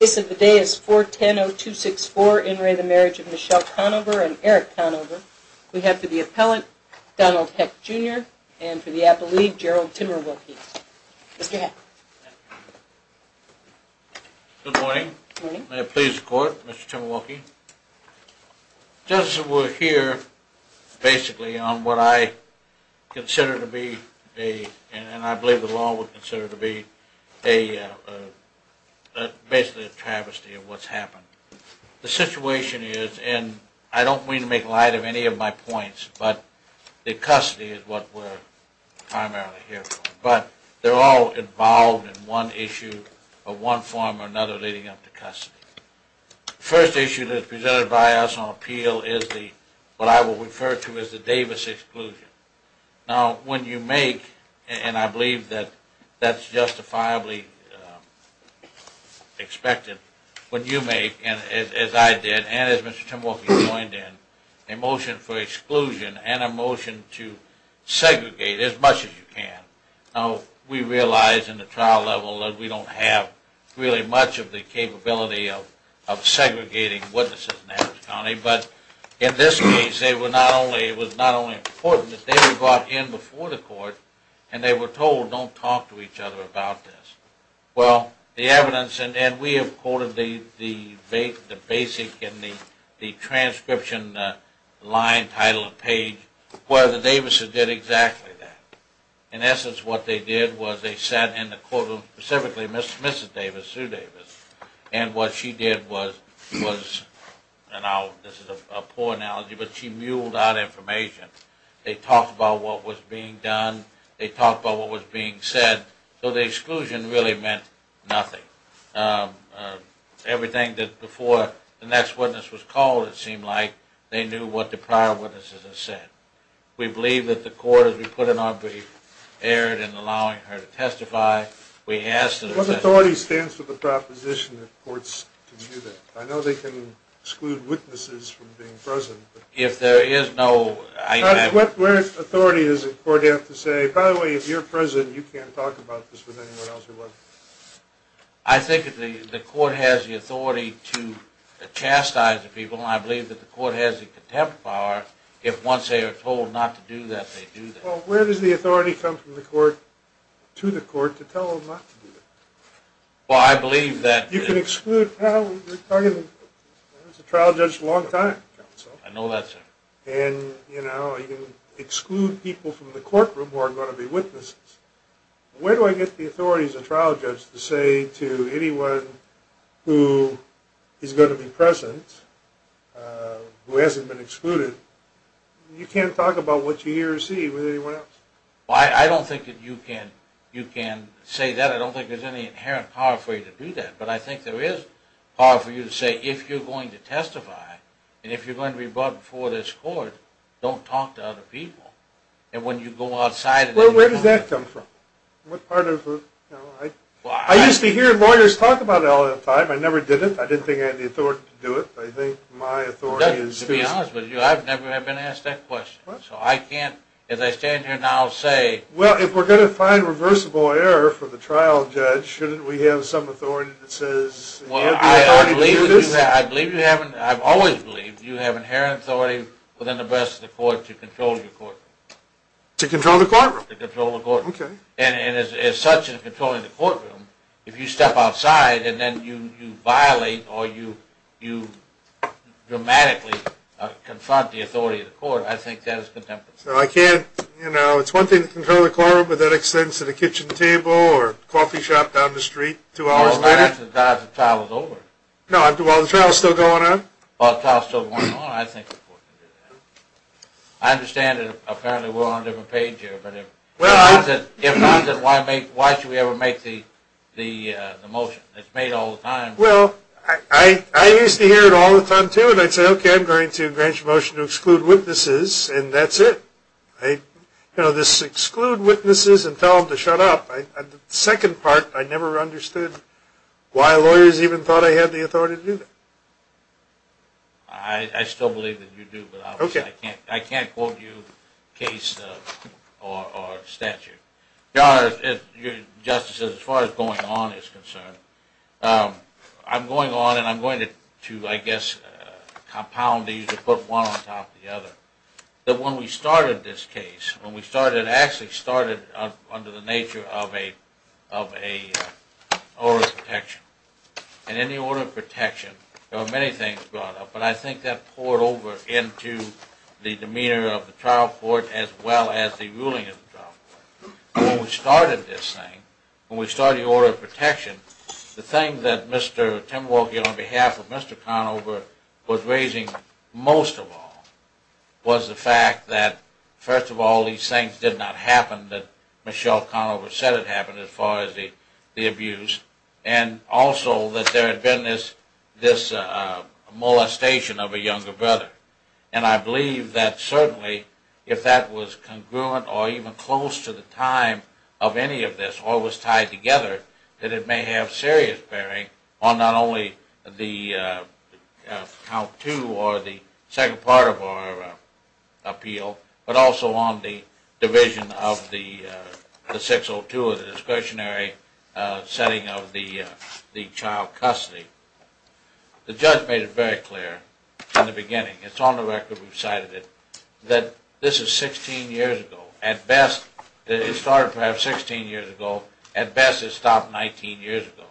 This of the day is 4-10-0-2-6-4 in re the Marriage of Michelle Conover and Eric Conover. We have for the appellant, Donald Heck Jr. and for the apple leaf, Gerald Timmerwolke. Mr. Heck. Good morning. May it please the court, Mr. Timmerwolke. The judge will hear, basically, on what I consider to be a, and I believe the law would consider to be, basically, a travesty of what's happened. The situation is, and I don't mean to make light of any of my points, but the custody is what we're primarily here for. But they're all involved in one issue or one form or another leading up to custody. First issue that's presented by us on appeal is the, what I will refer to as the Davis exclusion. Now, when you make, and I believe that that's justifiably expected, when you make, as I did and as Mr. Timmerwolke joined in, a motion for exclusion and a motion to segregate as much as you can. Now, we realize in the trial level that we don't have really much of the capability of segregating witnesses in Davis County, but in this case it was not only important that they were brought in before the court and they were told don't talk to each other about this. Well, the evidence, and we have quoted the basic and the transcription line, title, and page, where the Davis's did exactly that. In essence, what they did was they sat in the courtroom, specifically Mrs. Davis, Sue Davis, and what she did was, and this is a poor analogy, but she muled out information. They talked about what was being done, they talked about what was being said, so the exclusion really meant nothing. Everything that before the next witness was called, it seemed like, they knew what the prior witnesses had said. We believe that the court, as we put in our brief, erred in allowing her to testify. What authority stands for the proposition that courts can do that? I know they can exclude witnesses from being present. If there is no... What authority does the court have to say, by the way, if you're present, you can't talk about this with anyone else or what? I think the court has the authority to chastise the people, and I believe that the court has the contempt power if once they are told not to do that, they do that. Well, where does the authority come from the court, to the court, to tell them not to do that? Well, I believe that... You can exclude... I was a trial judge for a long time, counsel. I know that, sir. And, you know, you can exclude people from the courtroom who are going to be witnesses. Where do I get the authority as a trial judge to say to anyone who is going to be present, who hasn't been excluded, you can't talk about what you hear or see with anyone else? Well, I don't think that you can say that. I don't think there's any inherent power for you to do that. But I think there is power for you to say, if you're going to testify, and if you're going to be brought before this court, don't talk to other people. And when you go outside... Well, where does that come from? What part of... I used to hear lawyers talk about it all the time. I never did it. I didn't think I had the authority to do it. I think my authority is... To be honest with you, I've never been asked that question. So I can't, as I stand here now, say... Well, if we're going to find reversible error for the trial judge, shouldn't we have some authority that says... Well, I believe you haven't... I've always believed you have inherent authority within the rest of the court to control your courtroom. To control the courtroom? To control the courtroom. Okay. And as such, in controlling the courtroom, if you step outside and then you violate or you dramatically confront the authority of the court, I think that is contemptible. So I can't, you know, it's one thing to control the courtroom, but that extends to the kitchen table or coffee shop down the street two hours later? Well, not after the trial is over. No, while the trial is still going on? While the trial is still going on, I think the court can do that. I understand that apparently we're on a different page here, but if not, then why should we ever make the motion? It's made all the time. Well, I used to hear it all the time, too, and I'd say, okay, I'm going to grant you a motion to exclude witnesses, and that's it. You know, just exclude witnesses and tell them to shut up. The second part, I never understood why lawyers even thought I had the authority to do that. I still believe that you do, but I can't quote you case or statute. Your Honor, as far as going on is concerned, I'm going on and I'm going to, I guess, compound these and put one on top of the other. That when we started this case, when we started, it actually started under the nature of an order of protection. And in the order of protection, there were many things brought up, but I think that poured over into the demeanor of the trial court as well as the ruling of the trial court. When we started this thing, when we started the order of protection, the thing that Mr. Tim Wohlke, on behalf of Mr. Conover, was raising most of all, was the fact that, first of all, these things did not happen, that Michelle Conover said it happened as far as the abuse, and also that there had been this molestation of a younger brother. And I believe that certainly, if that was congruent or even close to the time of any of this or was tied together, that it may have serious bearing on not only the count two or the second part of our appeal, but also on the division of the 602 or the discretionary setting of the child custody. The judge made it very clear from the beginning, it's on the record, we've cited it, that this is 16 years ago. At best, it started perhaps 16 years ago. At best, it stopped 19 years ago.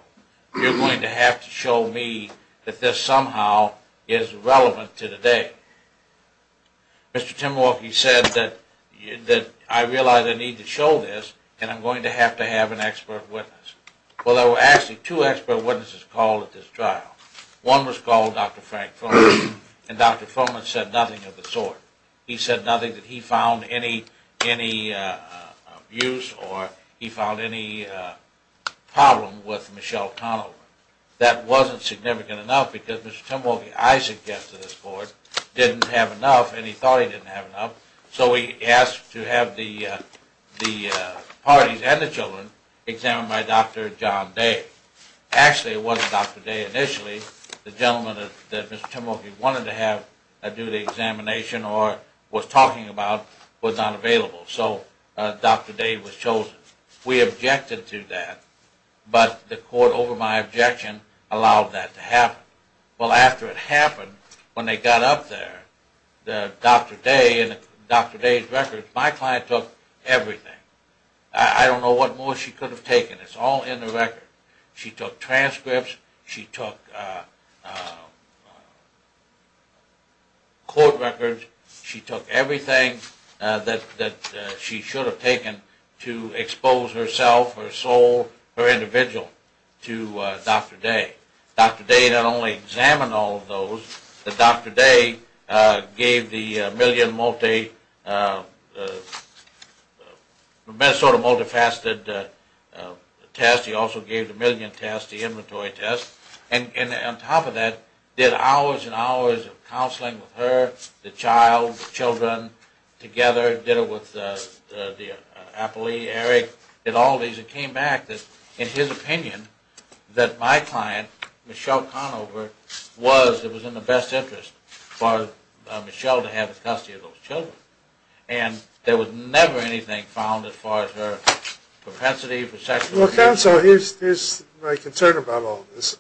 You're going to have to show me that this somehow is relevant to today. Mr. Tim Wohlke said that I realize I need to show this and I'm going to have to have an expert witness. Well, there were actually two expert witnesses called at this trial. One was called Dr. Frank Fulman and Dr. Fulman said nothing of the sort. He said nothing that he found any abuse or he found any problem with Michelle Conover. That wasn't significant enough because Mr. Tim Wohlke, I suggest to this court, didn't have enough and he thought he didn't have enough, so he asked to have the parties and the children examined by Dr. John Day. Actually, it wasn't Dr. Day initially, the gentleman that Mr. Tim Wohlke wanted to have do the examination or was talking about was not available, so Dr. Day was chosen. We objected to that, but the court over my objection allowed that to happen. Well, after it happened, when they got up there, Dr. Day and Dr. Day's records, my client took everything. I don't know what more she could have taken. It's all in the record. She took transcripts. She took court records. She took everything that she should have taken to expose herself, her soul, her individual to Dr. Day. Dr. Day not only examined all of those, but Dr. Day gave the million multifaceted test. He also gave the million test, the inventory test, and on top of that did hours and hours of counseling with her, the child, the children together. Did it with the appellee, Eric, did all of these. It came back that, in his opinion, that my client, Michelle Conover, was in the best interest for Michelle to have custody of those children. And there was never anything found as far as her propensity for sexual abuse. Well, counsel, here's my concern about all this.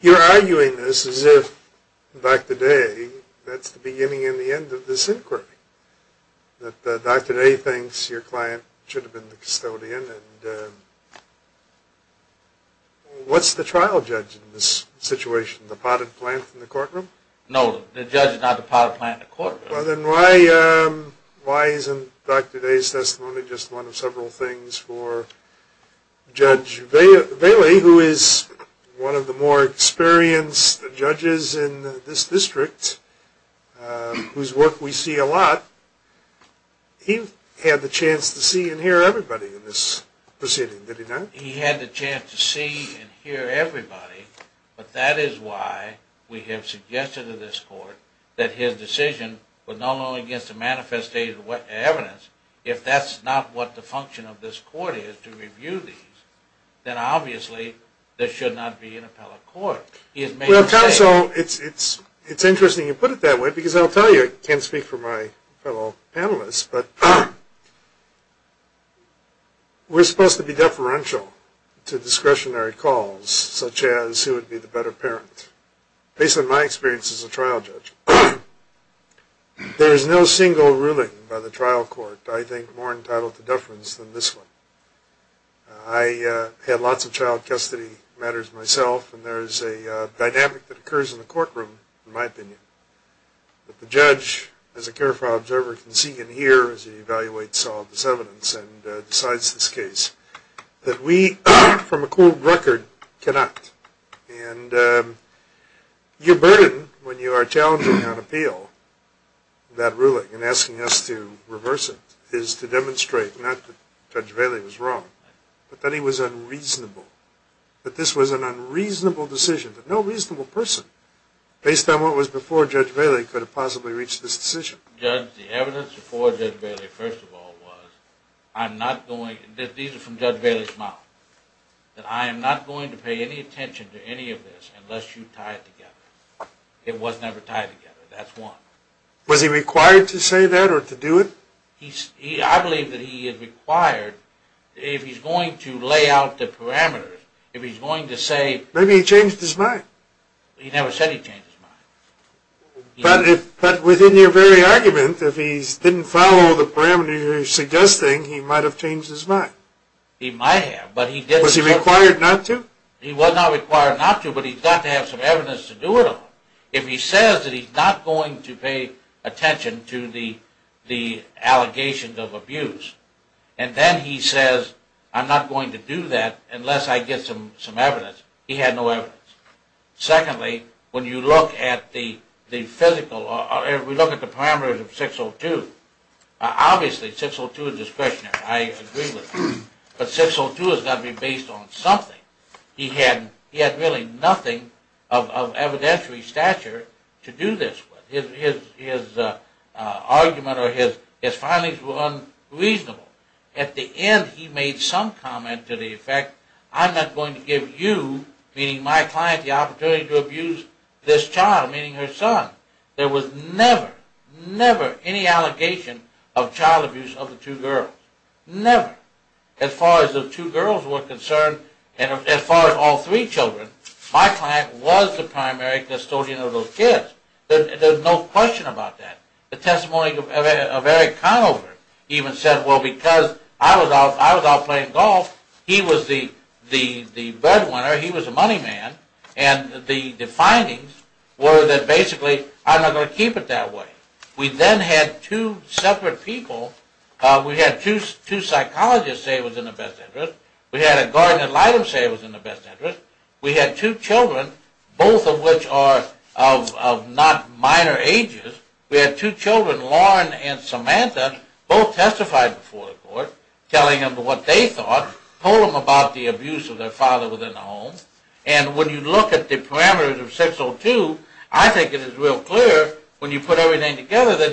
You're arguing this as if, Dr. Day, that's the beginning and the end of this inquiry. That Dr. Day thinks your client should have been the custodian. What's the trial judge in this situation, the potted plant in the courtroom? No, the judge is not the potted plant in the courtroom. Well, then why isn't Dr. Day's testimony just one of several things for Judge Bailey, who is one of the more experienced judges in this district, whose work we see a lot. He had the chance to see and hear everybody in this proceeding, did he not? He had the chance to see and hear everybody. But that is why we have suggested to this court that his decision was not only against the manifested evidence, if that's not what the function of this court is, to review these, then obviously there should not be an appellate court. Well, counsel, it's interesting you put it that way, because I'll tell you, I can't speak for my fellow panelists, but we're supposed to be deferential to discretionary calls, such as who would be the better parent, based on my experience as a trial judge. There is no single ruling by the trial court, I think, more entitled to deference than this one. I had lots of child custody matters myself, and there is a dynamic that occurs in the courtroom, in my opinion, that the judge, as a careful observer, can see and hear as he evaluates all of this evidence and decides this case, that we, from a cold record, cannot. And your burden, when you are challenging on appeal, that ruling and asking us to reverse it, is to demonstrate not that Judge Bailey was wrong, but that he was unreasonable, that this was an unreasonable decision, but no reasonable person, based on what was before Judge Bailey, could have possibly reached this decision. Judge, the evidence before Judge Bailey, first of all, was, I'm not going, these are from Judge Bailey's mouth, that I am not going to pay any attention to any of this unless you tie it together. It was never tied together, that's one. Was he required to say that, or to do it? I believe that he is required, if he's going to lay out the parameters, if he's going to say... Maybe he changed his mind. He never said he changed his mind. But within your very argument, if he didn't follow the parameters you're suggesting, he might have changed his mind. He might have, but he didn't... Was he required not to? He was not required not to, but he's got to have some evidence to do it on. If he says that he's not going to pay attention to the allegations of abuse, and then he says, I'm not going to do that unless I get some evidence, he had no evidence. Secondly, when you look at the physical, or if we look at the parameters of 602, obviously 602 is discretionary, I agree with that. But 602 has got to be based on something. He had really nothing of evidentiary stature to do this with. His argument or his findings were unreasonable. At the end he made some comment to the effect, I'm not going to give you, meaning my client, the opportunity to abuse this child, meaning her son. There was never, never any allegation of child abuse of the two girls. Never. As far as the two girls were concerned, and as far as all three children, my client was the primary custodian of those kids. There's no question about that. The testimony of Eric Conover even said, well, because I was out playing golf, he was the breadwinner, he was the money man, and the findings were that basically I'm not going to keep it that way. We then had two separate people. We had two psychologists say it was in their best interest. We had a guardian ad litem say it was in their best interest. We had two children, both of which are of not minor ages. We had two children, Lauren and Samantha, both testified before the court, telling them what they thought, told them about the abuse of their father within the home. And when you look at the parameters of 602, I think it is real clear when you put everything together that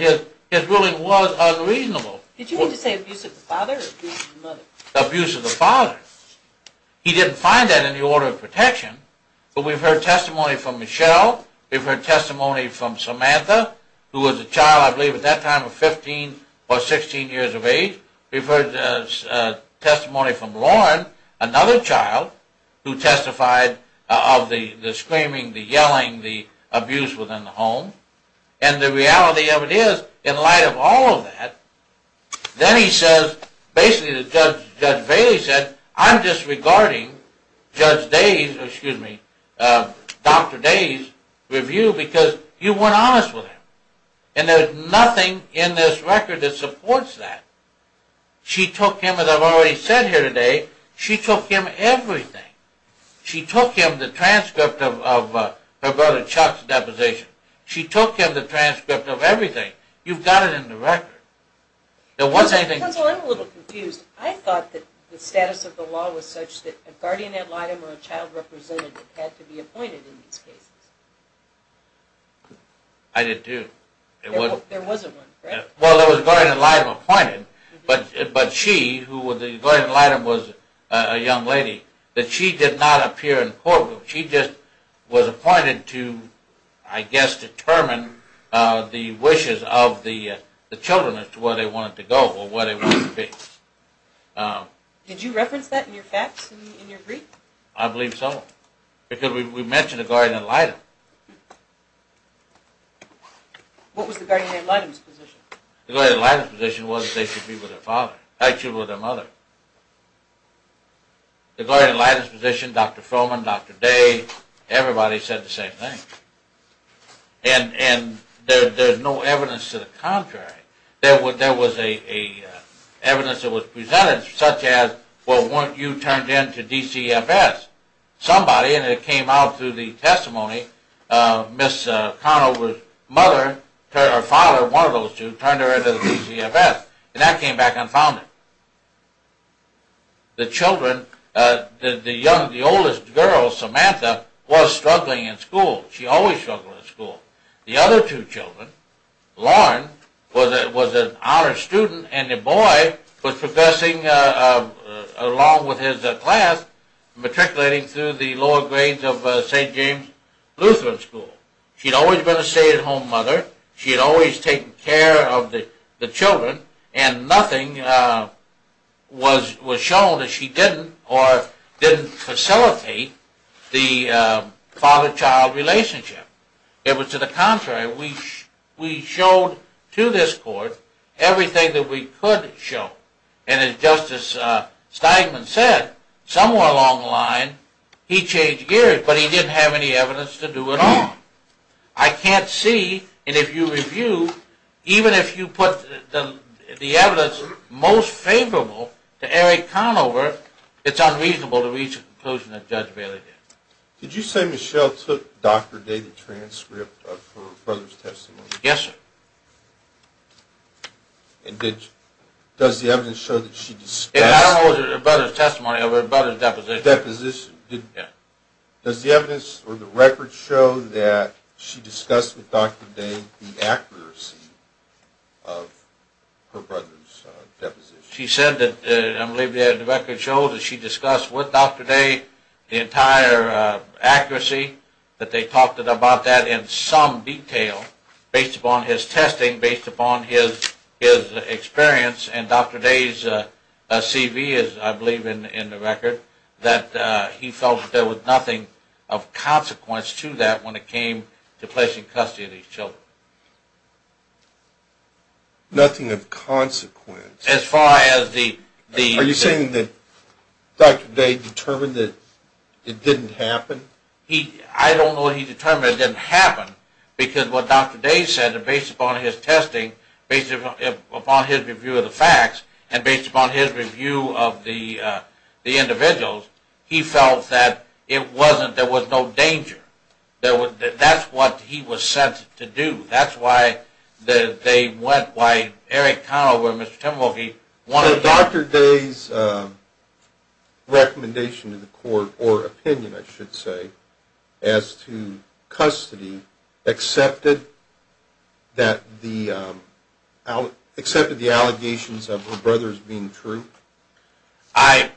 his ruling was unreasonable. Did you mean to say abuse of the father or abuse of the mother? Abuse of the father. He didn't find that in the order of protection. But we've heard testimony from Michelle. We've heard testimony from Samantha, who was a child, I believe at that time, of 15 or 16 years of age. We've heard testimony from Lauren, another child, who testified of the screaming, the yelling, the abuse within the home. And the reality of it is, in light of all of that, then he says, basically Judge Bailey said, I'm disregarding Judge Day's, excuse me, Dr. Day's review because you weren't honest with him. And there's nothing in this record that supports that. She took him, as I've already said here today, she took him everything. She took him the transcript of her brother Chuck's deposition. She took him the transcript of everything. You've got it in the record. I'm a little confused. I thought that the status of the law was such that a guardian ad litem or a child representative had to be appointed in these cases. I did too. There was one, correct? Well, there was a guardian ad litem appointed, but she, who the guardian ad litem was a young lady, that she did not appear in the courtroom. She just was appointed to, I guess, determine the wishes of the children as to where they wanted to go or where they wanted to be. Did you reference that in your facts in your brief? I believe so. Because we mentioned a guardian ad litem. What was the guardian ad litem's position? The guardian ad litem's position was that they should be with their father, actually with their mother. The guardian ad litem's position, Dr. Froman, Dr. Day, everybody said the same thing. And there's no evidence to the contrary. There was evidence that was presented such as, well, weren't you turned in to DCFS? Somebody, and it came out through the testimony, Ms. Conover's mother or father, one of those two, turned her in to the DCFS. And that came back and found her. The children, the youngest, the oldest girl, Samantha, was struggling in school. She always struggled in school. The other two children, Lauren was an honor student, and a boy was progressing along with his class, matriculating through the lower grades of St. James Lutheran School. She had always been a stay-at-home mother. She had always taken care of the children, and nothing was shown that she didn't or didn't facilitate the father-child relationship. It was to the contrary. We showed to this court everything that we could show. And as Justice Steinman said, somewhere along the line, he changed gears, but he didn't have any evidence to do it all. I can't see, and if you review, even if you put the evidence most favorable to Eric Conover, it's unreasonable to reach a conclusion that Judge Bailey did. Did you say Michelle took Dr. Day the transcript of her brother's testimony? Yes, sir. And does the evidence show that she discussed? It follows her brother's testimony of her brother's deposition. Deposition. Yeah. Does the evidence or the record show that she discussed with Dr. Day the accuracy of her brother's deposition? She said that, I believe the record shows that she discussed with Dr. Day the entire accuracy, that they talked about that in some detail based upon his testing, based upon his experience, and Dr. Day's CV is, I believe, in the record, that he felt that there was nothing of consequence to that when it came to placing custody of these children. Nothing of consequence? As far as the... Are you saying that Dr. Day determined that it didn't happen? I don't know he determined it didn't happen because what Dr. Day said, based upon his testing, based upon his review of the facts, and based upon his review of the individuals, he felt that it wasn't, there was no danger. That's what he was sent to do. That's why they went, why Eric Conover and Mr. Timothy wanted... So Dr. Day's recommendation to the court, or opinion, I should say, as to custody, accepted the allegations of her brothers being true? I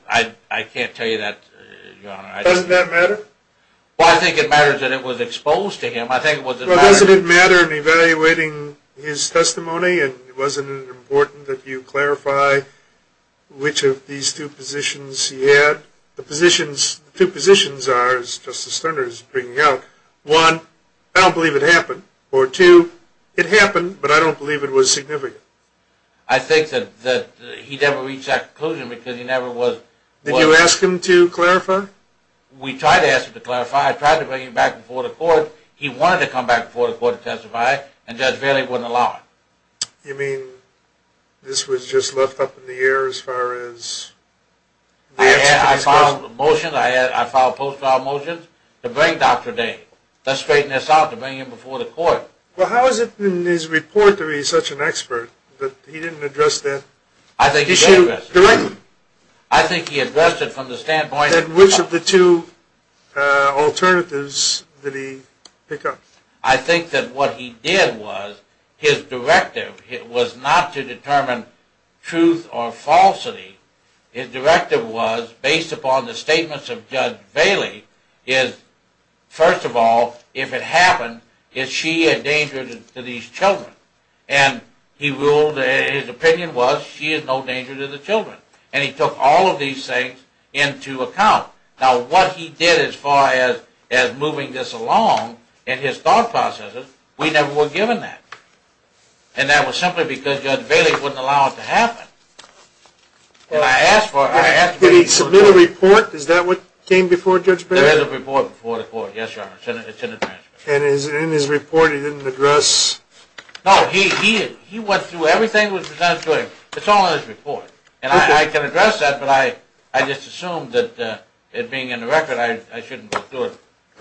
can't tell you that, Your Honor. Doesn't that matter? Well, I think it matters that it was exposed to him. Well, doesn't it matter in evaluating his testimony, and wasn't it important that you clarify which of these two positions he had? The two positions are, as Justice Sterner is bringing out, one, I don't believe it happened, or two, it happened, but I don't believe it was significant. I think that he never reached that conclusion because he never was... Did you ask him to clarify? We tried to ask him to clarify. I tried to bring him back before the court. He wanted to come back before the court to testify, and Judge Bailey wouldn't allow it. You mean this was just left up in the air as far as... I filed motions, I filed post-trial motions to bring Dr. Day. Let's straighten this out to bring him before the court. Well, how is it in his report that he's such an expert, that he didn't address that issue directly? I think he addressed it from the standpoint of... Then which of the two alternatives did he pick up? I think that what he did was, his directive was not to determine truth or falsity. His directive was, based upon the statements of Judge Bailey, is, first of all, if it happened, is she a danger to these children? And he ruled, his opinion was, she is no danger to the children. And he took all of these things into account. Now what he did as far as moving this along in his thought processes, we never were given that. And that was simply because Judge Bailey wouldn't allow it to happen. And I asked for it. Did he submit a report? Is that what came before Judge Bailey? There is a report before the court, yes, Your Honor. It's in the transcript. And in his report he didn't address... No, he went through everything that was presented to him. It's all in his report. And I can address that, but I just assumed that it being in the record, I shouldn't go through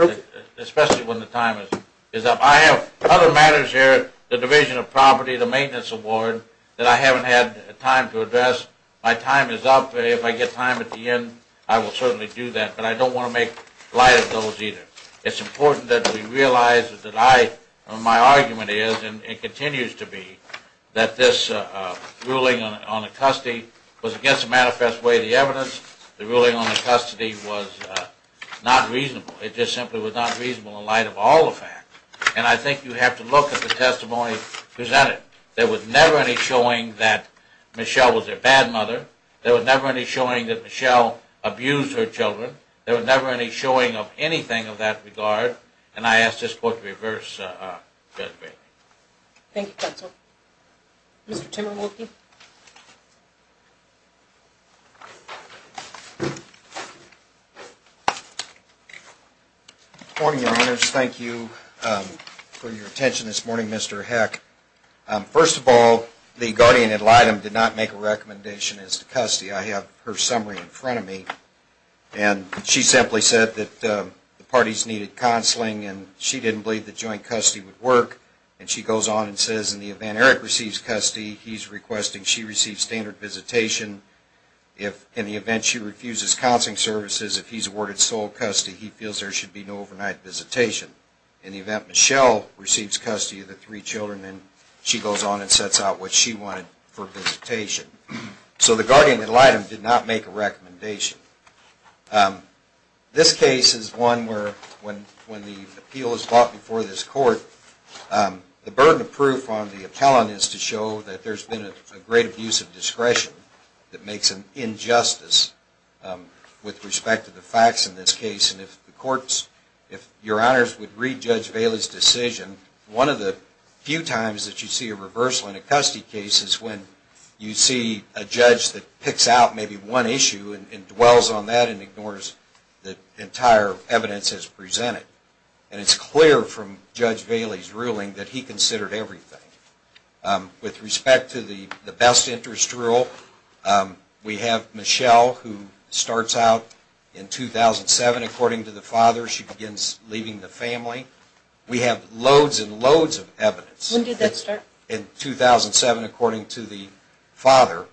it, especially when the time is up. I have other matters here, the division of property, the maintenance award, that I haven't had time to address. My time is up. If I get time at the end, I will certainly do that. But I don't want to make light of those either. It's important that we realize that I, or my argument is, and continues to be, that this ruling on the custody was against the manifest way of the evidence. The ruling on the custody was not reasonable. It just simply was not reasonable in light of all the facts. And I think you have to look at the testimony presented. There was never any showing that Michelle was their bad mother. There was never any showing that Michelle abused her children. There was never any showing of anything of that regard. And I ask this court to reverse Judge Bailey. Thank you, counsel. Mr. Timberwolke. Good morning, Your Honors. Thank you for your attention this morning, Mr. Heck. First of all, the guardian ad litem did not make a recommendation as to custody. I have her summary in front of me. And she simply said that the parties needed counseling, and she didn't believe that joint custody would work. And she goes on and says, in the event Eric receives custody, he's requesting she receives standard visitation. In the event she refuses counseling services, if he's awarded sole custody, he feels there should be no overnight visitation. In the event Michelle receives custody of the three children, she goes on and sets out what she wanted for visitation. So the guardian ad litem did not make a recommendation. This case is one where when the appeal is brought before this court, the burden of proof on the appellant is to show that there's been a great abuse of discretion that makes an injustice with respect to the facts in this case. And if the courts, if Your Honors would read Judge Bailey's decision, one of the few times that you see a reversal in a custody case is when you see a judge that picks out maybe one issue and dwells on that and ignores the entire evidence as presented. And it's clear from Judge Bailey's ruling that he considered everything. With respect to the best interest rule, we have Michelle who starts out in 2007, according to the father, she begins leaving the family. We have loads and loads of evidence. When did that start? In 2007, according to the father.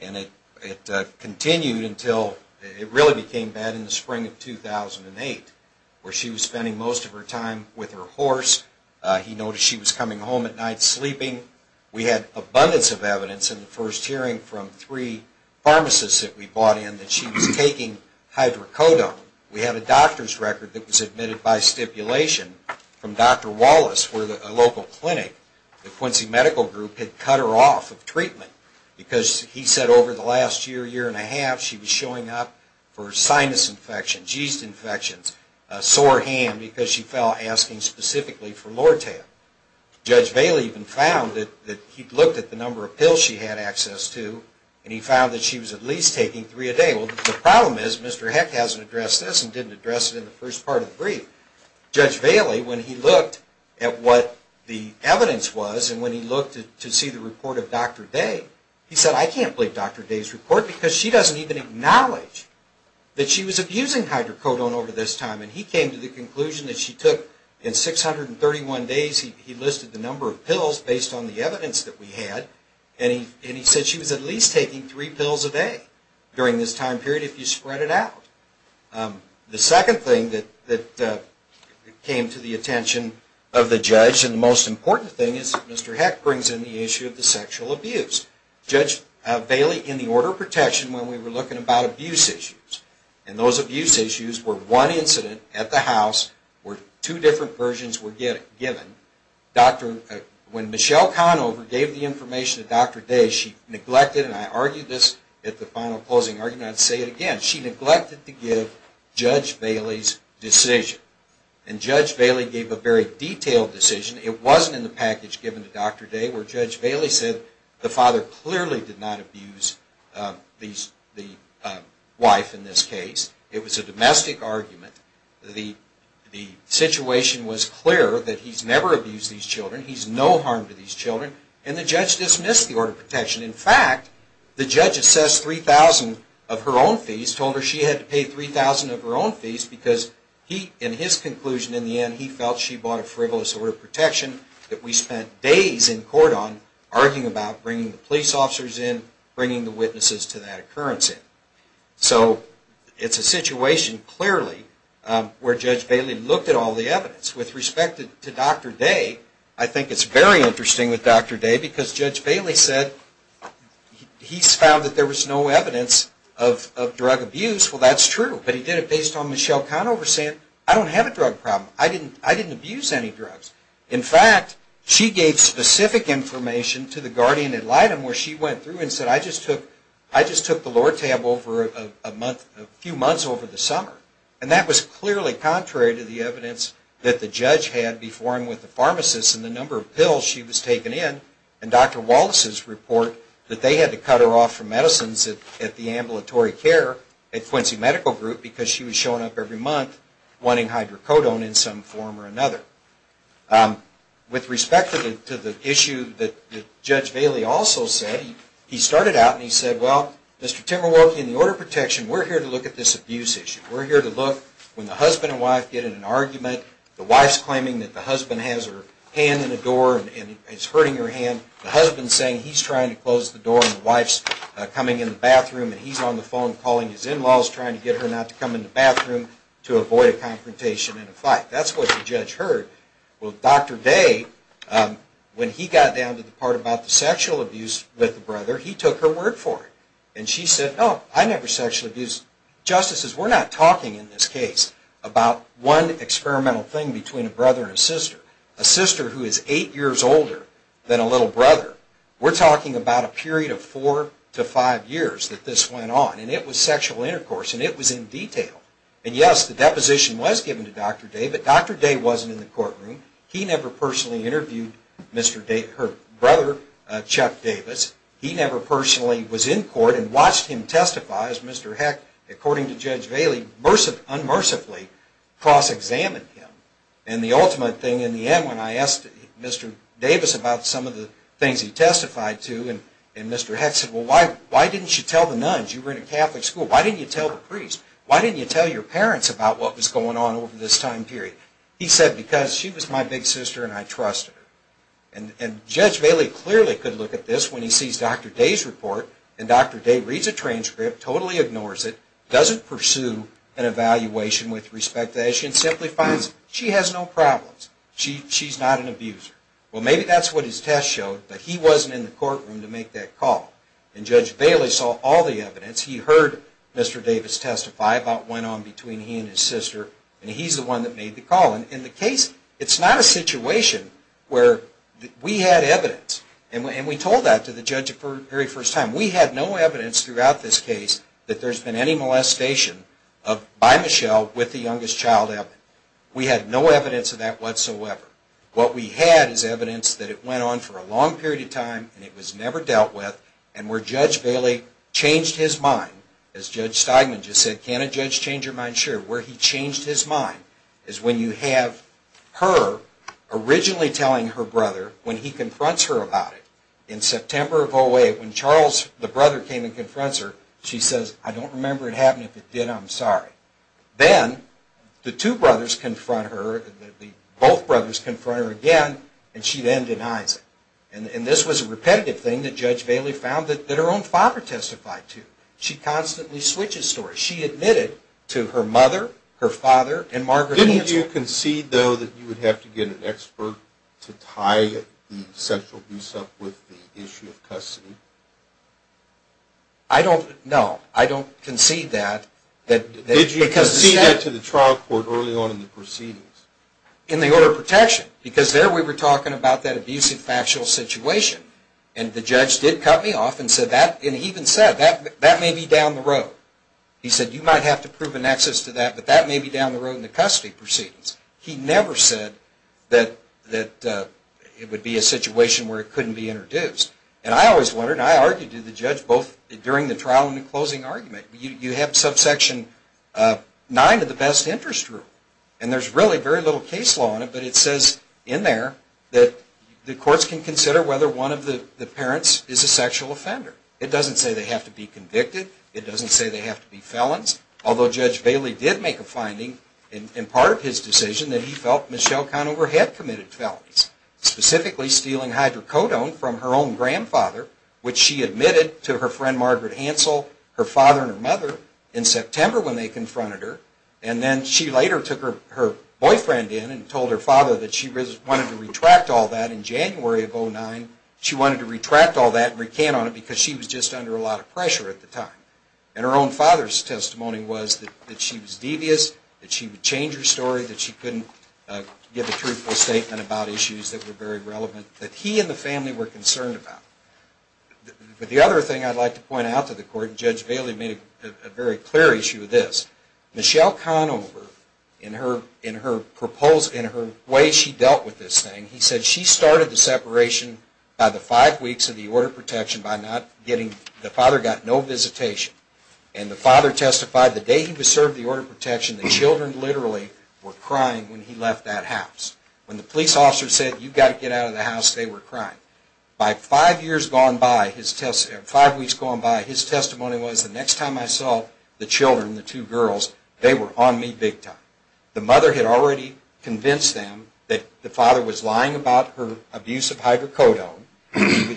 And it continued until it really became bad in the spring of 2008 where she was spending most of her time with her horse. He noticed she was coming home at night sleeping. We had abundance of evidence in the first hearing from three pharmacists that we brought in that she was taking hydrocodone. We had a doctor's record that was admitted by stipulation from Dr. Wallace for a local clinic. The Quincy Medical Group had cut her off of treatment because he said over the last year, year and a half, she was showing up for sinus infections, yeast infections, a sore hand because she fell asking specifically for Lortab. Judge Bailey even found that he'd looked at the number of pills she had access to and he found that she was at least taking three a day. Well, the problem is Mr. Heck hasn't addressed this and didn't address it in the first part of the brief. Judge Bailey, when he looked at what the evidence was and when he looked to see the report of Dr. Day, he said, I can't believe Dr. Day's report because she doesn't even acknowledge that she was abusing hydrocodone over this time. And he came to the conclusion that she took, in 631 days, he listed the number of pills based on the evidence that we had and he said she was at least taking three pills a day during this time period if you spread it out. The second thing that came to the attention of the judge and the most important thing is that Mr. Heck brings in the issue of the sexual abuse. Judge Bailey, in the order of protection, when we were looking about abuse issues, and those abuse issues were one incident at the house where two different versions were given, when Michelle Conover gave the information to Dr. Day, she neglected, and I argue this at the final closing argument, and I say it again, she neglected to give Judge Bailey's decision. And Judge Bailey gave a very detailed decision. It wasn't in the package given to Dr. Day where Judge Bailey said the father clearly did not abuse the wife in this case. It was a domestic argument. The situation was clear that he's never abused these children. He's no harm to these children. And the judge dismissed the order of protection. In fact, the judge assessed 3,000 of her own fees, told her she had to pay 3,000 of her own fees because in his conclusion in the end he felt she bought a frivolous order of protection that we spent days in court on arguing about bringing the police officers in, bringing the witnesses to that occurrence in. So it's a situation clearly where Judge Bailey looked at all the evidence. With respect to Dr. Day, I think it's very interesting with Dr. Day because Judge Bailey said he's found that there was no evidence of drug abuse. Well, that's true, but he did it based on Michelle Conover saying, I don't have a drug problem. I didn't abuse any drugs. In fact, she gave specific information to the guardian at Lytton where she went through and said, I just took the Lortab over a few months over the summer. And that was clearly contrary to the evidence that the judge had before him with the pharmacist and the number of pills she was taking in and Dr. Wallace's report that they had to cut her off from medicines at the ambulatory care at Quincy Medical Group because she was showing up every month wanting hydrocodone in some form or another. With respect to the issue that Judge Bailey also said, he started out and he said, well, Mr. Timberwolke, in the order of protection, we're here to look at this abuse issue. We're here to look when the husband and wife get in an argument, the wife's claiming that the husband has her hand in the door and is hurting her hand, the husband's saying he's trying to close the door and the wife's coming in the bathroom and he's on the phone calling his in-laws trying to get her not to come in the bathroom to avoid a confrontation and a fight. That's what the judge heard. Well, Dr. Day, when he got down to the part about the sexual abuse with the brother, he took her word for it. And she said, no, I never sexually abused. Justices, we're not talking in this case about one experimental thing between a brother and a sister. A sister who is eight years older than a little brother, we're talking about a period of four to five years that this went on and it was sexual intercourse and it was in detail. And yes, the deposition was given to Dr. Day, but Dr. Day wasn't in the courtroom. He never personally interviewed her brother, Chuck Davis. He never personally was in court and watched him testify as Mr. Heck, according to Judge Bailey, unmercifully cross-examined him. And the ultimate thing in the end when I asked Mr. Davis about some of the things he testified to and Mr. Heck said, well, why didn't you tell the nuns? You were in a Catholic school. Why didn't you tell the priest? Why didn't you tell your parents about what was going on over this time period? He said, because she was my big sister and I trusted her. And Judge Bailey clearly could look at this when he sees Dr. Day's report and Dr. Day reads the transcript, totally ignores it, doesn't pursue an evaluation with respect to the issue and simply finds she has no problems. She's not an abuser. Well, maybe that's what his test showed, but he wasn't in the courtroom to make that call. And Judge Bailey saw all the evidence. He heard Mr. Davis testify about what went on between he and his sister and he's the one that made the call. In the case, it's not a situation where we had evidence and we told that to the judge the very first time. We had no evidence throughout this case that there's been any molestation by Michelle with the youngest child. We had no evidence of that whatsoever. What we had is evidence that it went on for a long period of time and it was never dealt with and where Judge Bailey changed his mind, as Judge Steinman just said, can a judge change your mind? I'm not sure where he changed his mind is when you have her originally telling her brother when he confronts her about it. In September of 08, when Charles, the brother, came and confronts her, she says, I don't remember it happening. If it did, I'm sorry. Then the two brothers confront her, both brothers confront her again, and she then denies it. And this was a repetitive thing that Judge Bailey found that her own father testified to. She constantly switches stories. She admitted to her mother, her father, and Margaret Mansfield. Didn't you concede, though, that you would have to get an expert to tie the sexual abuse up with the issue of custody? No, I don't concede that. Did you concede that to the trial court early on in the proceedings? In the order of protection because there we were talking about that abusive factual situation and the judge did cut me off and he even said, that may be down the road. He said, you might have to prove an excess to that, but that may be down the road in the custody proceedings. He never said that it would be a situation where it couldn't be introduced. And I always wondered, and I argued to the judge both during the trial and the closing argument, you have subsection 9 of the best interest rule, and there's really very little case law on it, but it says in there that the courts can consider whether one of the parents is a sexual offender. It doesn't say they have to be convicted. It doesn't say they have to be felons, although Judge Bailey did make a finding in part of his decision that he felt Michelle Conover had committed felonies, specifically stealing hydrocodone from her own grandfather, which she admitted to her friend Margaret Hansel, her father and her mother, in September when they confronted her. And then she later took her boyfriend in and told her father that she wanted to retract all that in January of 2009. She wanted to retract all that and recant on it because she was just under a lot of pressure at the time. And her own father's testimony was that she was devious, that she would change her story, that she couldn't give a truthful statement about issues that were very relevant, that he and the family were concerned about. But the other thing I'd like to point out to the court, and Judge Bailey made a very clear issue of this, Michelle Conover, in her way she dealt with this thing, he said she started the separation by the five weeks of the order of protection by not getting, the father got no visitation. And the father testified the day he was served the order of protection that children literally were crying when he left that house. When the police officer said, you've got to get out of the house, they were crying. By five weeks gone by, his testimony was, the next time I saw the children, the two girls, they were on me big time. The mother had already convinced them that the father was lying about her abuse of hydrocodone.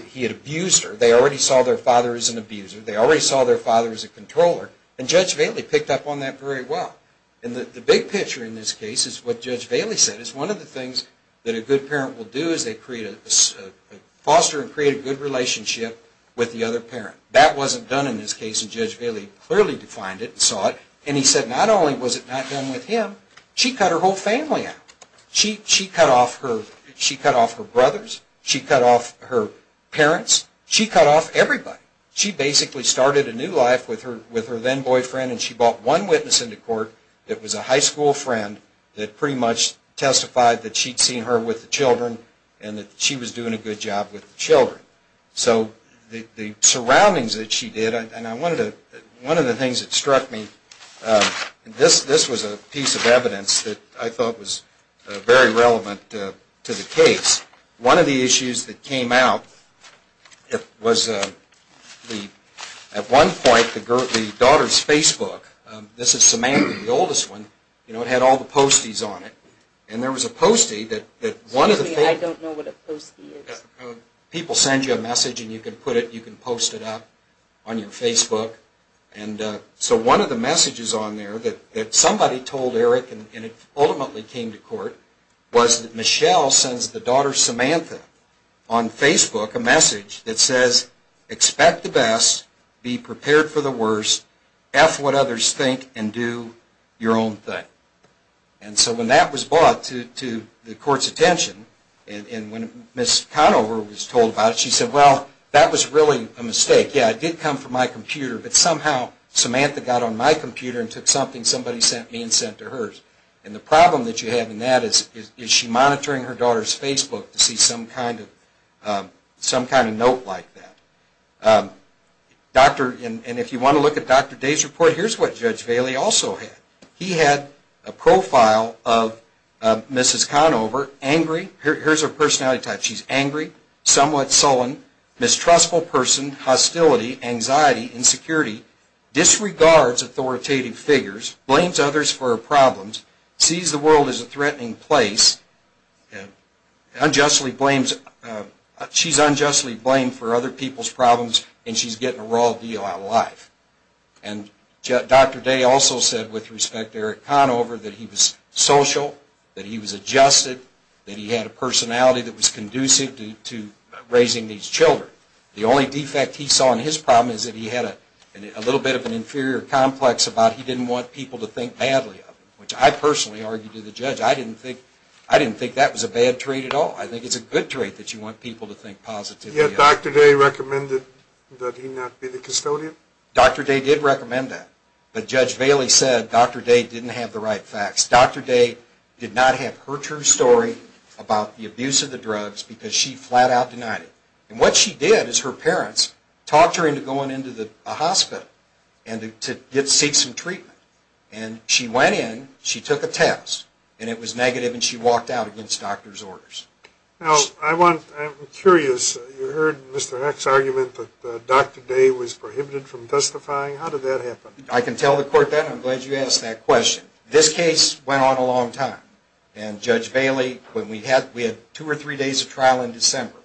He had abused her. They already saw their father as an abuser. They already saw their father as a controller. And Judge Bailey picked up on that very well. And the big picture in this case is what Judge Bailey said, is one of the things that a good parent will do is foster and create a good relationship with the other parent. That wasn't done in this case, and Judge Bailey clearly defined it and saw it. And he said not only was it not done with him, she cut her whole family out. She cut off her brothers. She cut off her parents. She cut off everybody. She basically started a new life with her then boyfriend and she brought one witness into court that was a high school friend that pretty much testified that she'd seen her with the children and that she was doing a good job with the children. So the surroundings that she did, and one of the things that struck me, this was a piece of evidence that I thought was very relevant to the case. One of the issues that came out was at one point the daughter's Facebook. This is Samantha, the oldest one. It had all the posties on it. And there was a postie that one of the... Excuse me, I don't know what a postie is. People send you a message and you can put it, you can post it up on your Facebook. And so one of the messages on there that somebody told Eric and it ultimately came to court was that Michelle sends the daughter Samantha on Facebook a message that says expect the best, be prepared for the worst, F what others think, and do your own thing. And so when that was brought to the court's attention and when Ms. Conover was told about it, she said, well, that was really a mistake. Yeah, it did come from my computer, but somehow Samantha got on my computer and took something somebody sent me and sent to hers. And the problem that you have in that is is she monitoring her daughter's Facebook to see some kind of note like that? And if you want to look at Dr. Day's report, here's what Judge Bailey also had. He had a profile of Mrs. Conover, angry, here's her personality type, she's angry, somewhat sullen, mistrustful person, hostility, anxiety, insecurity, disregards authoritative figures, blames others for her problems, sees the world as a threatening place, unjustly blames, she's unjustly blamed for other people's problems and she's getting a raw deal out of life. And Dr. Day also said, with respect to Eric Conover, that he was social, that he was adjusted, that he had a personality that was conducive to raising these children. The only defect he saw in his problem is that he had a little bit of an inferior complex about he didn't want people to think badly of him, which I personally argued to the judge. I didn't think that was a bad trait at all. I think it's a good trait that you want people to think positively of. Yet Dr. Day recommended that he not be the custodian? Dr. Day did recommend that. But Judge Bailey said Dr. Day didn't have the right facts. Dr. Day did not have her true story about the abuse of the drugs because she flat out denied it. And what she did is her parents talked her into going into a hospital and to seek some treatment. And she went in, she took a test, and it was negative and she walked out against doctor's orders. I'm curious, you heard Mr. Heck's argument that Dr. Day was prohibited from testifying. How did that happen? I can tell the court that. I'm glad you asked that question. This case went on a long time. And Judge Bailey, we had two or three days of trial in December.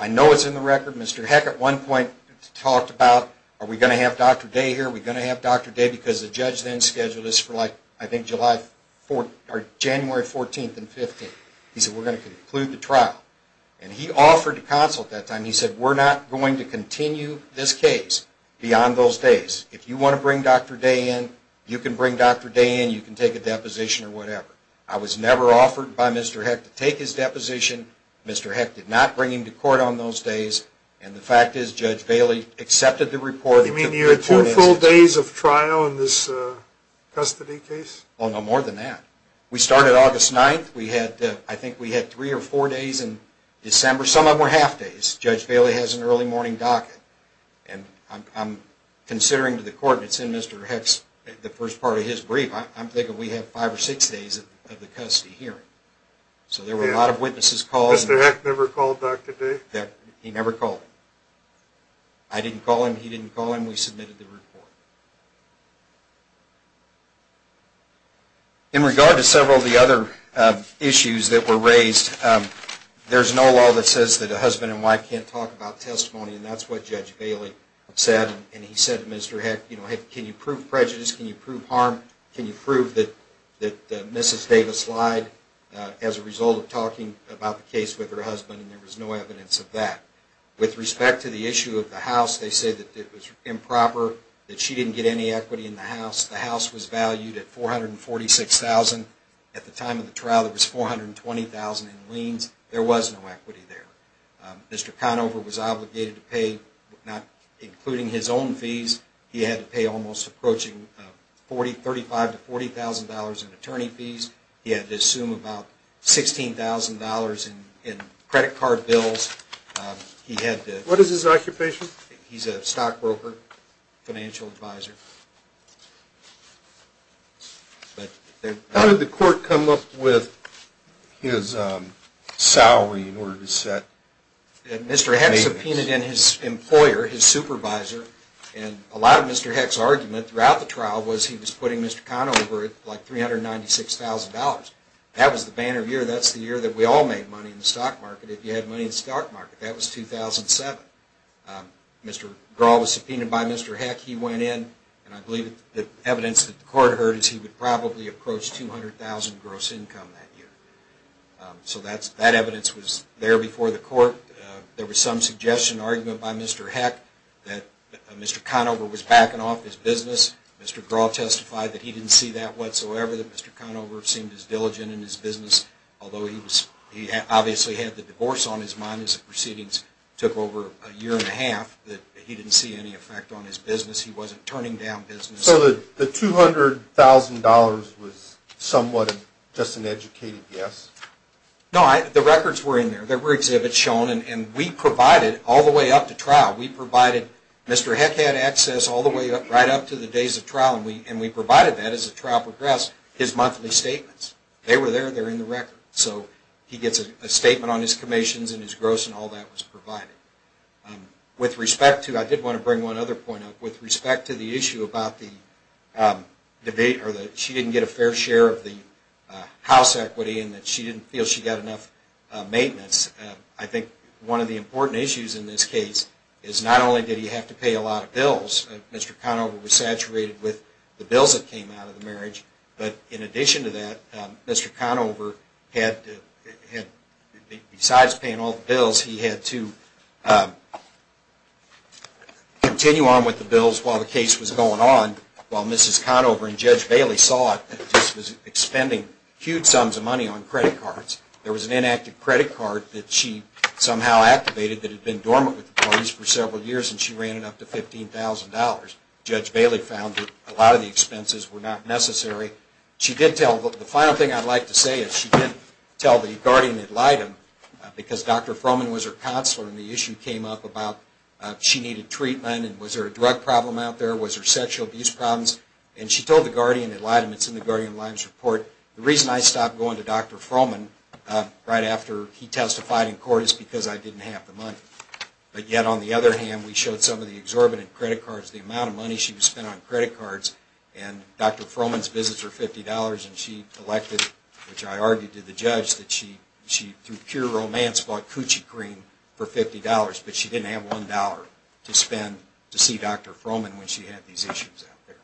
I know it's in the record. Mr. Heck at one point talked about, are we going to have Dr. Day here? Are we going to have Dr. Day? Because the judge then scheduled this for, I think, January 14th and 15th. He said, we're going to conclude the trial. And he offered to consult that time. He said, we're not going to continue this case beyond those days. If you want to bring Dr. Day in, you can bring Dr. Day in. You can take a deposition or whatever. I was never offered by Mr. Heck to take his deposition. Mr. Heck did not bring him to court on those days. And the fact is Judge Bailey accepted the report. You mean you had two full days of trial in this custody case? Oh, no, more than that. We started August 9th. I think we had three or four days in December. Some of them were half days. Judge Bailey has an early morning docket. And I'm considering to the court, and it's in Mr. Heck's, the first part of his brief, I'm thinking we have five or six days of the custody hearing. So there were a lot of witnesses called. Mr. Heck never called Dr. Day? He never called him. I didn't call him. He didn't call him. We submitted the report. In regard to several of the other issues that were raised, there's no law that says that a husband and wife can't talk about testimony, and that's what Judge Bailey said. And he said to Mr. Heck, you know, hey, can you prove prejudice? Can you prove harm? Can you prove that Mrs. Davis lied as a result of talking about the case with her husband? And there was no evidence of that. With respect to the issue of the house, they say that it was improper, that she didn't get any equity in the house. The house was valued at $446,000. At the time of the trial, there was $420,000 in liens. There was no equity there. Mr. Conover was obligated to pay, not including his own fees, he had to pay almost approaching $35,000 to $40,000 in attorney fees. He had to assume about $16,000 in credit card bills. What is his occupation? He's a stockbroker, financial advisor. How did the court come up with his salary in order to set payments? Mr. Heck subpoenaed in his employer, his supervisor, and a lot of Mr. Heck's argument throughout the trial was he was putting Mr. Conover at like $396,000. That was the banner year. That's the year that we all made money in the stock market, That was 2007. Mr. Graw was subpoenaed by Mr. Heck. He went in, and I believe the evidence that the court heard is he would probably approach $200,000 gross income that year. So that evidence was there before the court. There was some suggestion, argument by Mr. Heck, that Mr. Conover was backing off his business. Mr. Graw testified that he didn't see that whatsoever, that Mr. Conover seemed as diligent in his business, although he obviously had the divorce on his mind as the proceedings took over a year and a half, that he didn't see any effect on his business. He wasn't turning down business. So the $200,000 was somewhat just an educated guess? No, the records were in there. There were exhibits shown, and we provided all the way up to trial. We provided Mr. Heck had access all the way right up to the days of trial, and we provided that as the trial progressed, his monthly statements. They were there, and they're in the records. So he gets a statement on his commissions and his gross, and all that was provided. With respect to, I did want to bring one other point up, with respect to the issue about the debate, or that she didn't get a fair share of the house equity and that she didn't feel she got enough maintenance, I think one of the important issues in this case is not only did he have to pay a lot of bills, Mr. Conover was saturated with the bills that came out of the marriage, but in addition to that, Mr. Conover had, besides paying all the bills, he had to continue on with the bills while the case was going on, while Mrs. Conover and Judge Bailey saw it, that this was expending huge sums of money on credit cards. There was an inactive credit card that she somehow activated that had been dormant with the parties for several years, and she ran it up to $15,000. Judge Bailey found that a lot of the expenses were not necessary. She did tell, the final thing I'd like to say is, she did tell the guardian ad litem, because Dr. Froman was her counselor, and the issue came up about, she needed treatment, and was there a drug problem out there, was there sexual abuse problems, and she told the guardian ad litem, it's in the guardian ad litem's report, the reason I stopped going to Dr. Froman right after he testified in court is because I didn't have the money. But yet, on the other hand, we showed some of the exorbitant credit cards, the amount of money she was spending on credit cards, and Dr. Froman's visits were $50, and she collected, which I argued to the judge, that she, through pure romance, bought coochie cream for $50, but she didn't have $1 to spend to see Dr. Froman when she had these issues out there.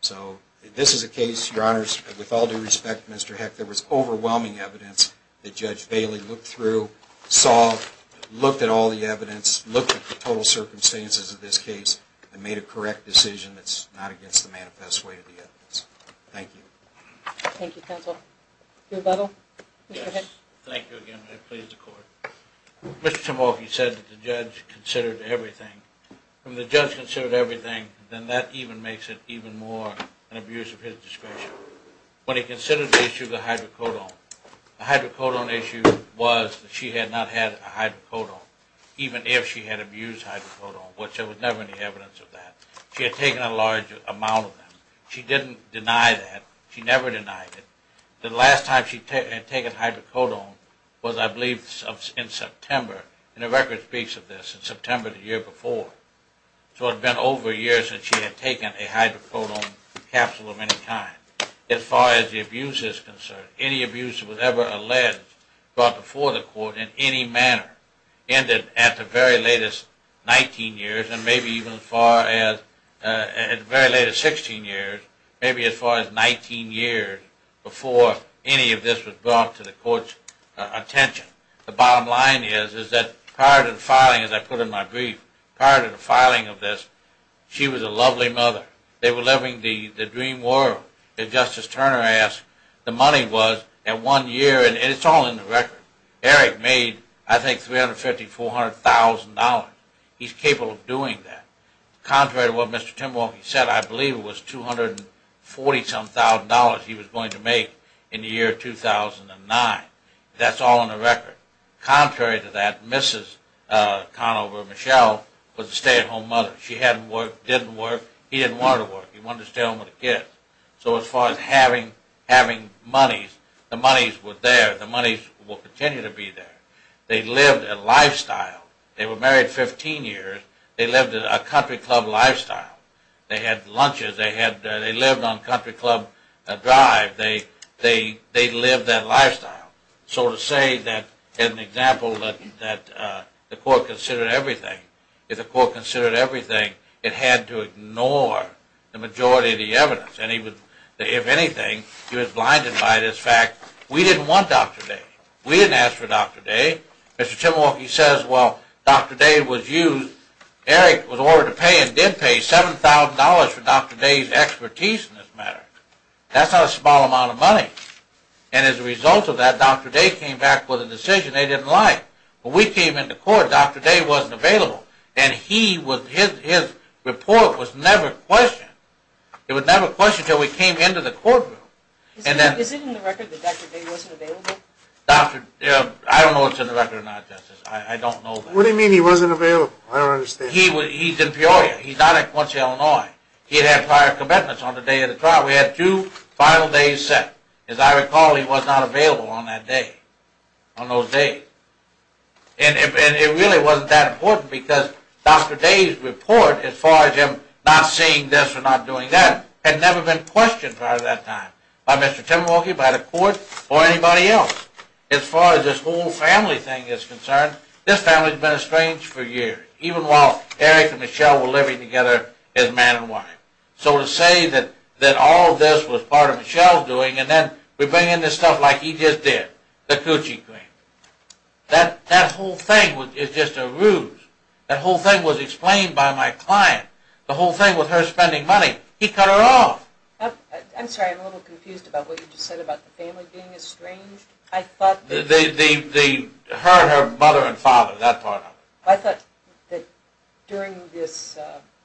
So, this is a case, your honors, with all due respect, Mr. Heck, there was overwhelming evidence that Judge Bailey looked through, saw, looked at all the evidence, looked at the total circumstances of this case, and made a correct decision that's not against the manifest way of the evidence. Thank you. Thank you, counsel. Your butthole, Mr. Heck. Thank you again, I please the court. Mr. Timofey said that the judge considered everything. When the judge considered everything, then that even makes it even more an abuse of his discretion. When he considered the issue of the hydrocodone, the hydrocodone issue was that she had not had a hydrocodone, even if she had abused hydrocodone, which there was never any evidence of that. She had taken a large amount of them. She didn't deny that. She never denied it. The last time she had taken hydrocodone was, I believe, in September, and the record speaks of this, in September the year before. So, it had been over a year since she had taken a hydrocodone capsule of any kind. As far as the abuse is concerned, any abuse that was ever alleged, brought before the court in any manner, ended at the very latest 19 years and maybe even as far as, at the very latest 16 years, maybe as far as 19 years before any of this was brought to the court's attention. The bottom line is, is that prior to the filing, as I put in my brief, prior to the filing of this, she was a lovely mother. They were living the dream world. As Justice Turner asked, the money was at one year, and it's all in the record. Eric made, I think, $350,000, $400,000. He's capable of doing that. Contrary to what Mr. Timberlake said, I believe it was $247,000 he was going to make in the year 2009. That's all in the record. Contrary to that, Mrs. Conover Michelle was a stay-at-home mother. She hadn't worked, didn't work. He didn't want her to work. He wanted to stay home with the kids. So as far as having monies, the monies were there. The monies will continue to be there. They lived a lifestyle. They were married 15 years. They lived a country club lifestyle. They had lunches. They lived on Country Club Drive. They lived that lifestyle. So to say that, as an example, that the court considered everything, if the court considered everything, it had to ignore the majority of the evidence. And if anything, he was blinded by this fact. We didn't want Dr. Day. We didn't ask for Dr. Day. Mr. Timberlake says, well, Dr. Day was used. Eric was ordered to pay and did pay $7,000 for Dr. Day's expertise in this matter. That's not a small amount of money. And as a result of that, Dr. Day came back with a decision they didn't like. When we came into court, Dr. Day wasn't available. And his report was never questioned. It was never questioned until we came into the courtroom. Is it in the record that Dr. Day wasn't available? I don't know if it's in the record or not, Justice. I don't know. What do you mean he wasn't available? I don't understand. He's in Peoria. He's not at Quincy, Illinois. He had prior commitments on the day of the trial. We had two final days set. As I recall, he was not available on that day, on those days. And it really wasn't that important because Dr. Day's report, as far as him not seeing this or not doing that, had never been questioned prior to that time by Mr. Timberwolke, by the court, or anybody else. As far as this whole family thing is concerned, this family has been estranged for years, even while Eric and Michelle were living together as man and wife. So to say that all of this was part of Michelle's doing, and then we bring in this stuff like he just did, the coochie cream, that whole thing is just a ruse. That whole thing was explained by my client. The whole thing with her spending money, he cut her off. I'm sorry. I'm a little confused about what you just said about the family being estranged. Her and her mother and father, that part of it. I thought that during this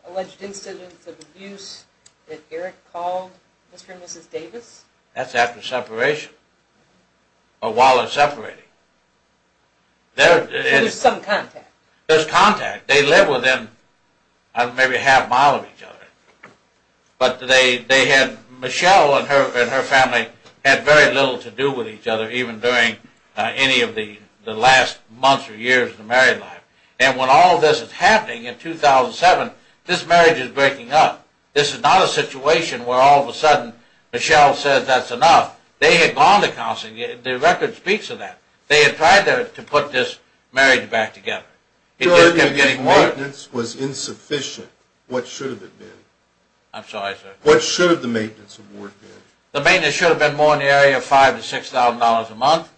alleged incident of abuse, that Eric called Mr. and Mrs. Davis? That's after separation, or while they're separating. So there's some contact. There's contact. They live within maybe a half mile of each other. But Michelle and her family had very little to do with each other, even during any of the last months or years of their married life. And when all of this is happening in 2007, this marriage is breaking up. This is not a situation where all of a sudden Michelle says that's enough. They had gone to counseling. The record speaks of that. They had tried to put this marriage back together. His maintenance was insufficient. What should have it been? I'm sorry, sir. What should have the maintenance award been? The maintenance should have been more in the area of $5,000 to $6,000 a month.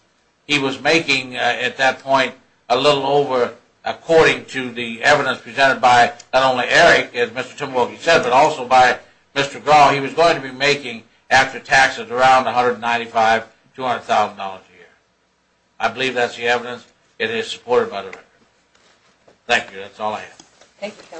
He was making, at that point, a little over, according to the evidence presented by not only Eric, as Mr. Timberwolf said, but also by Mr. Graw. He was going to be making, after taxes, around $195,000 to $200,000 a year. I believe that's the evidence. It is supported by the record. Thank you. That's all I have.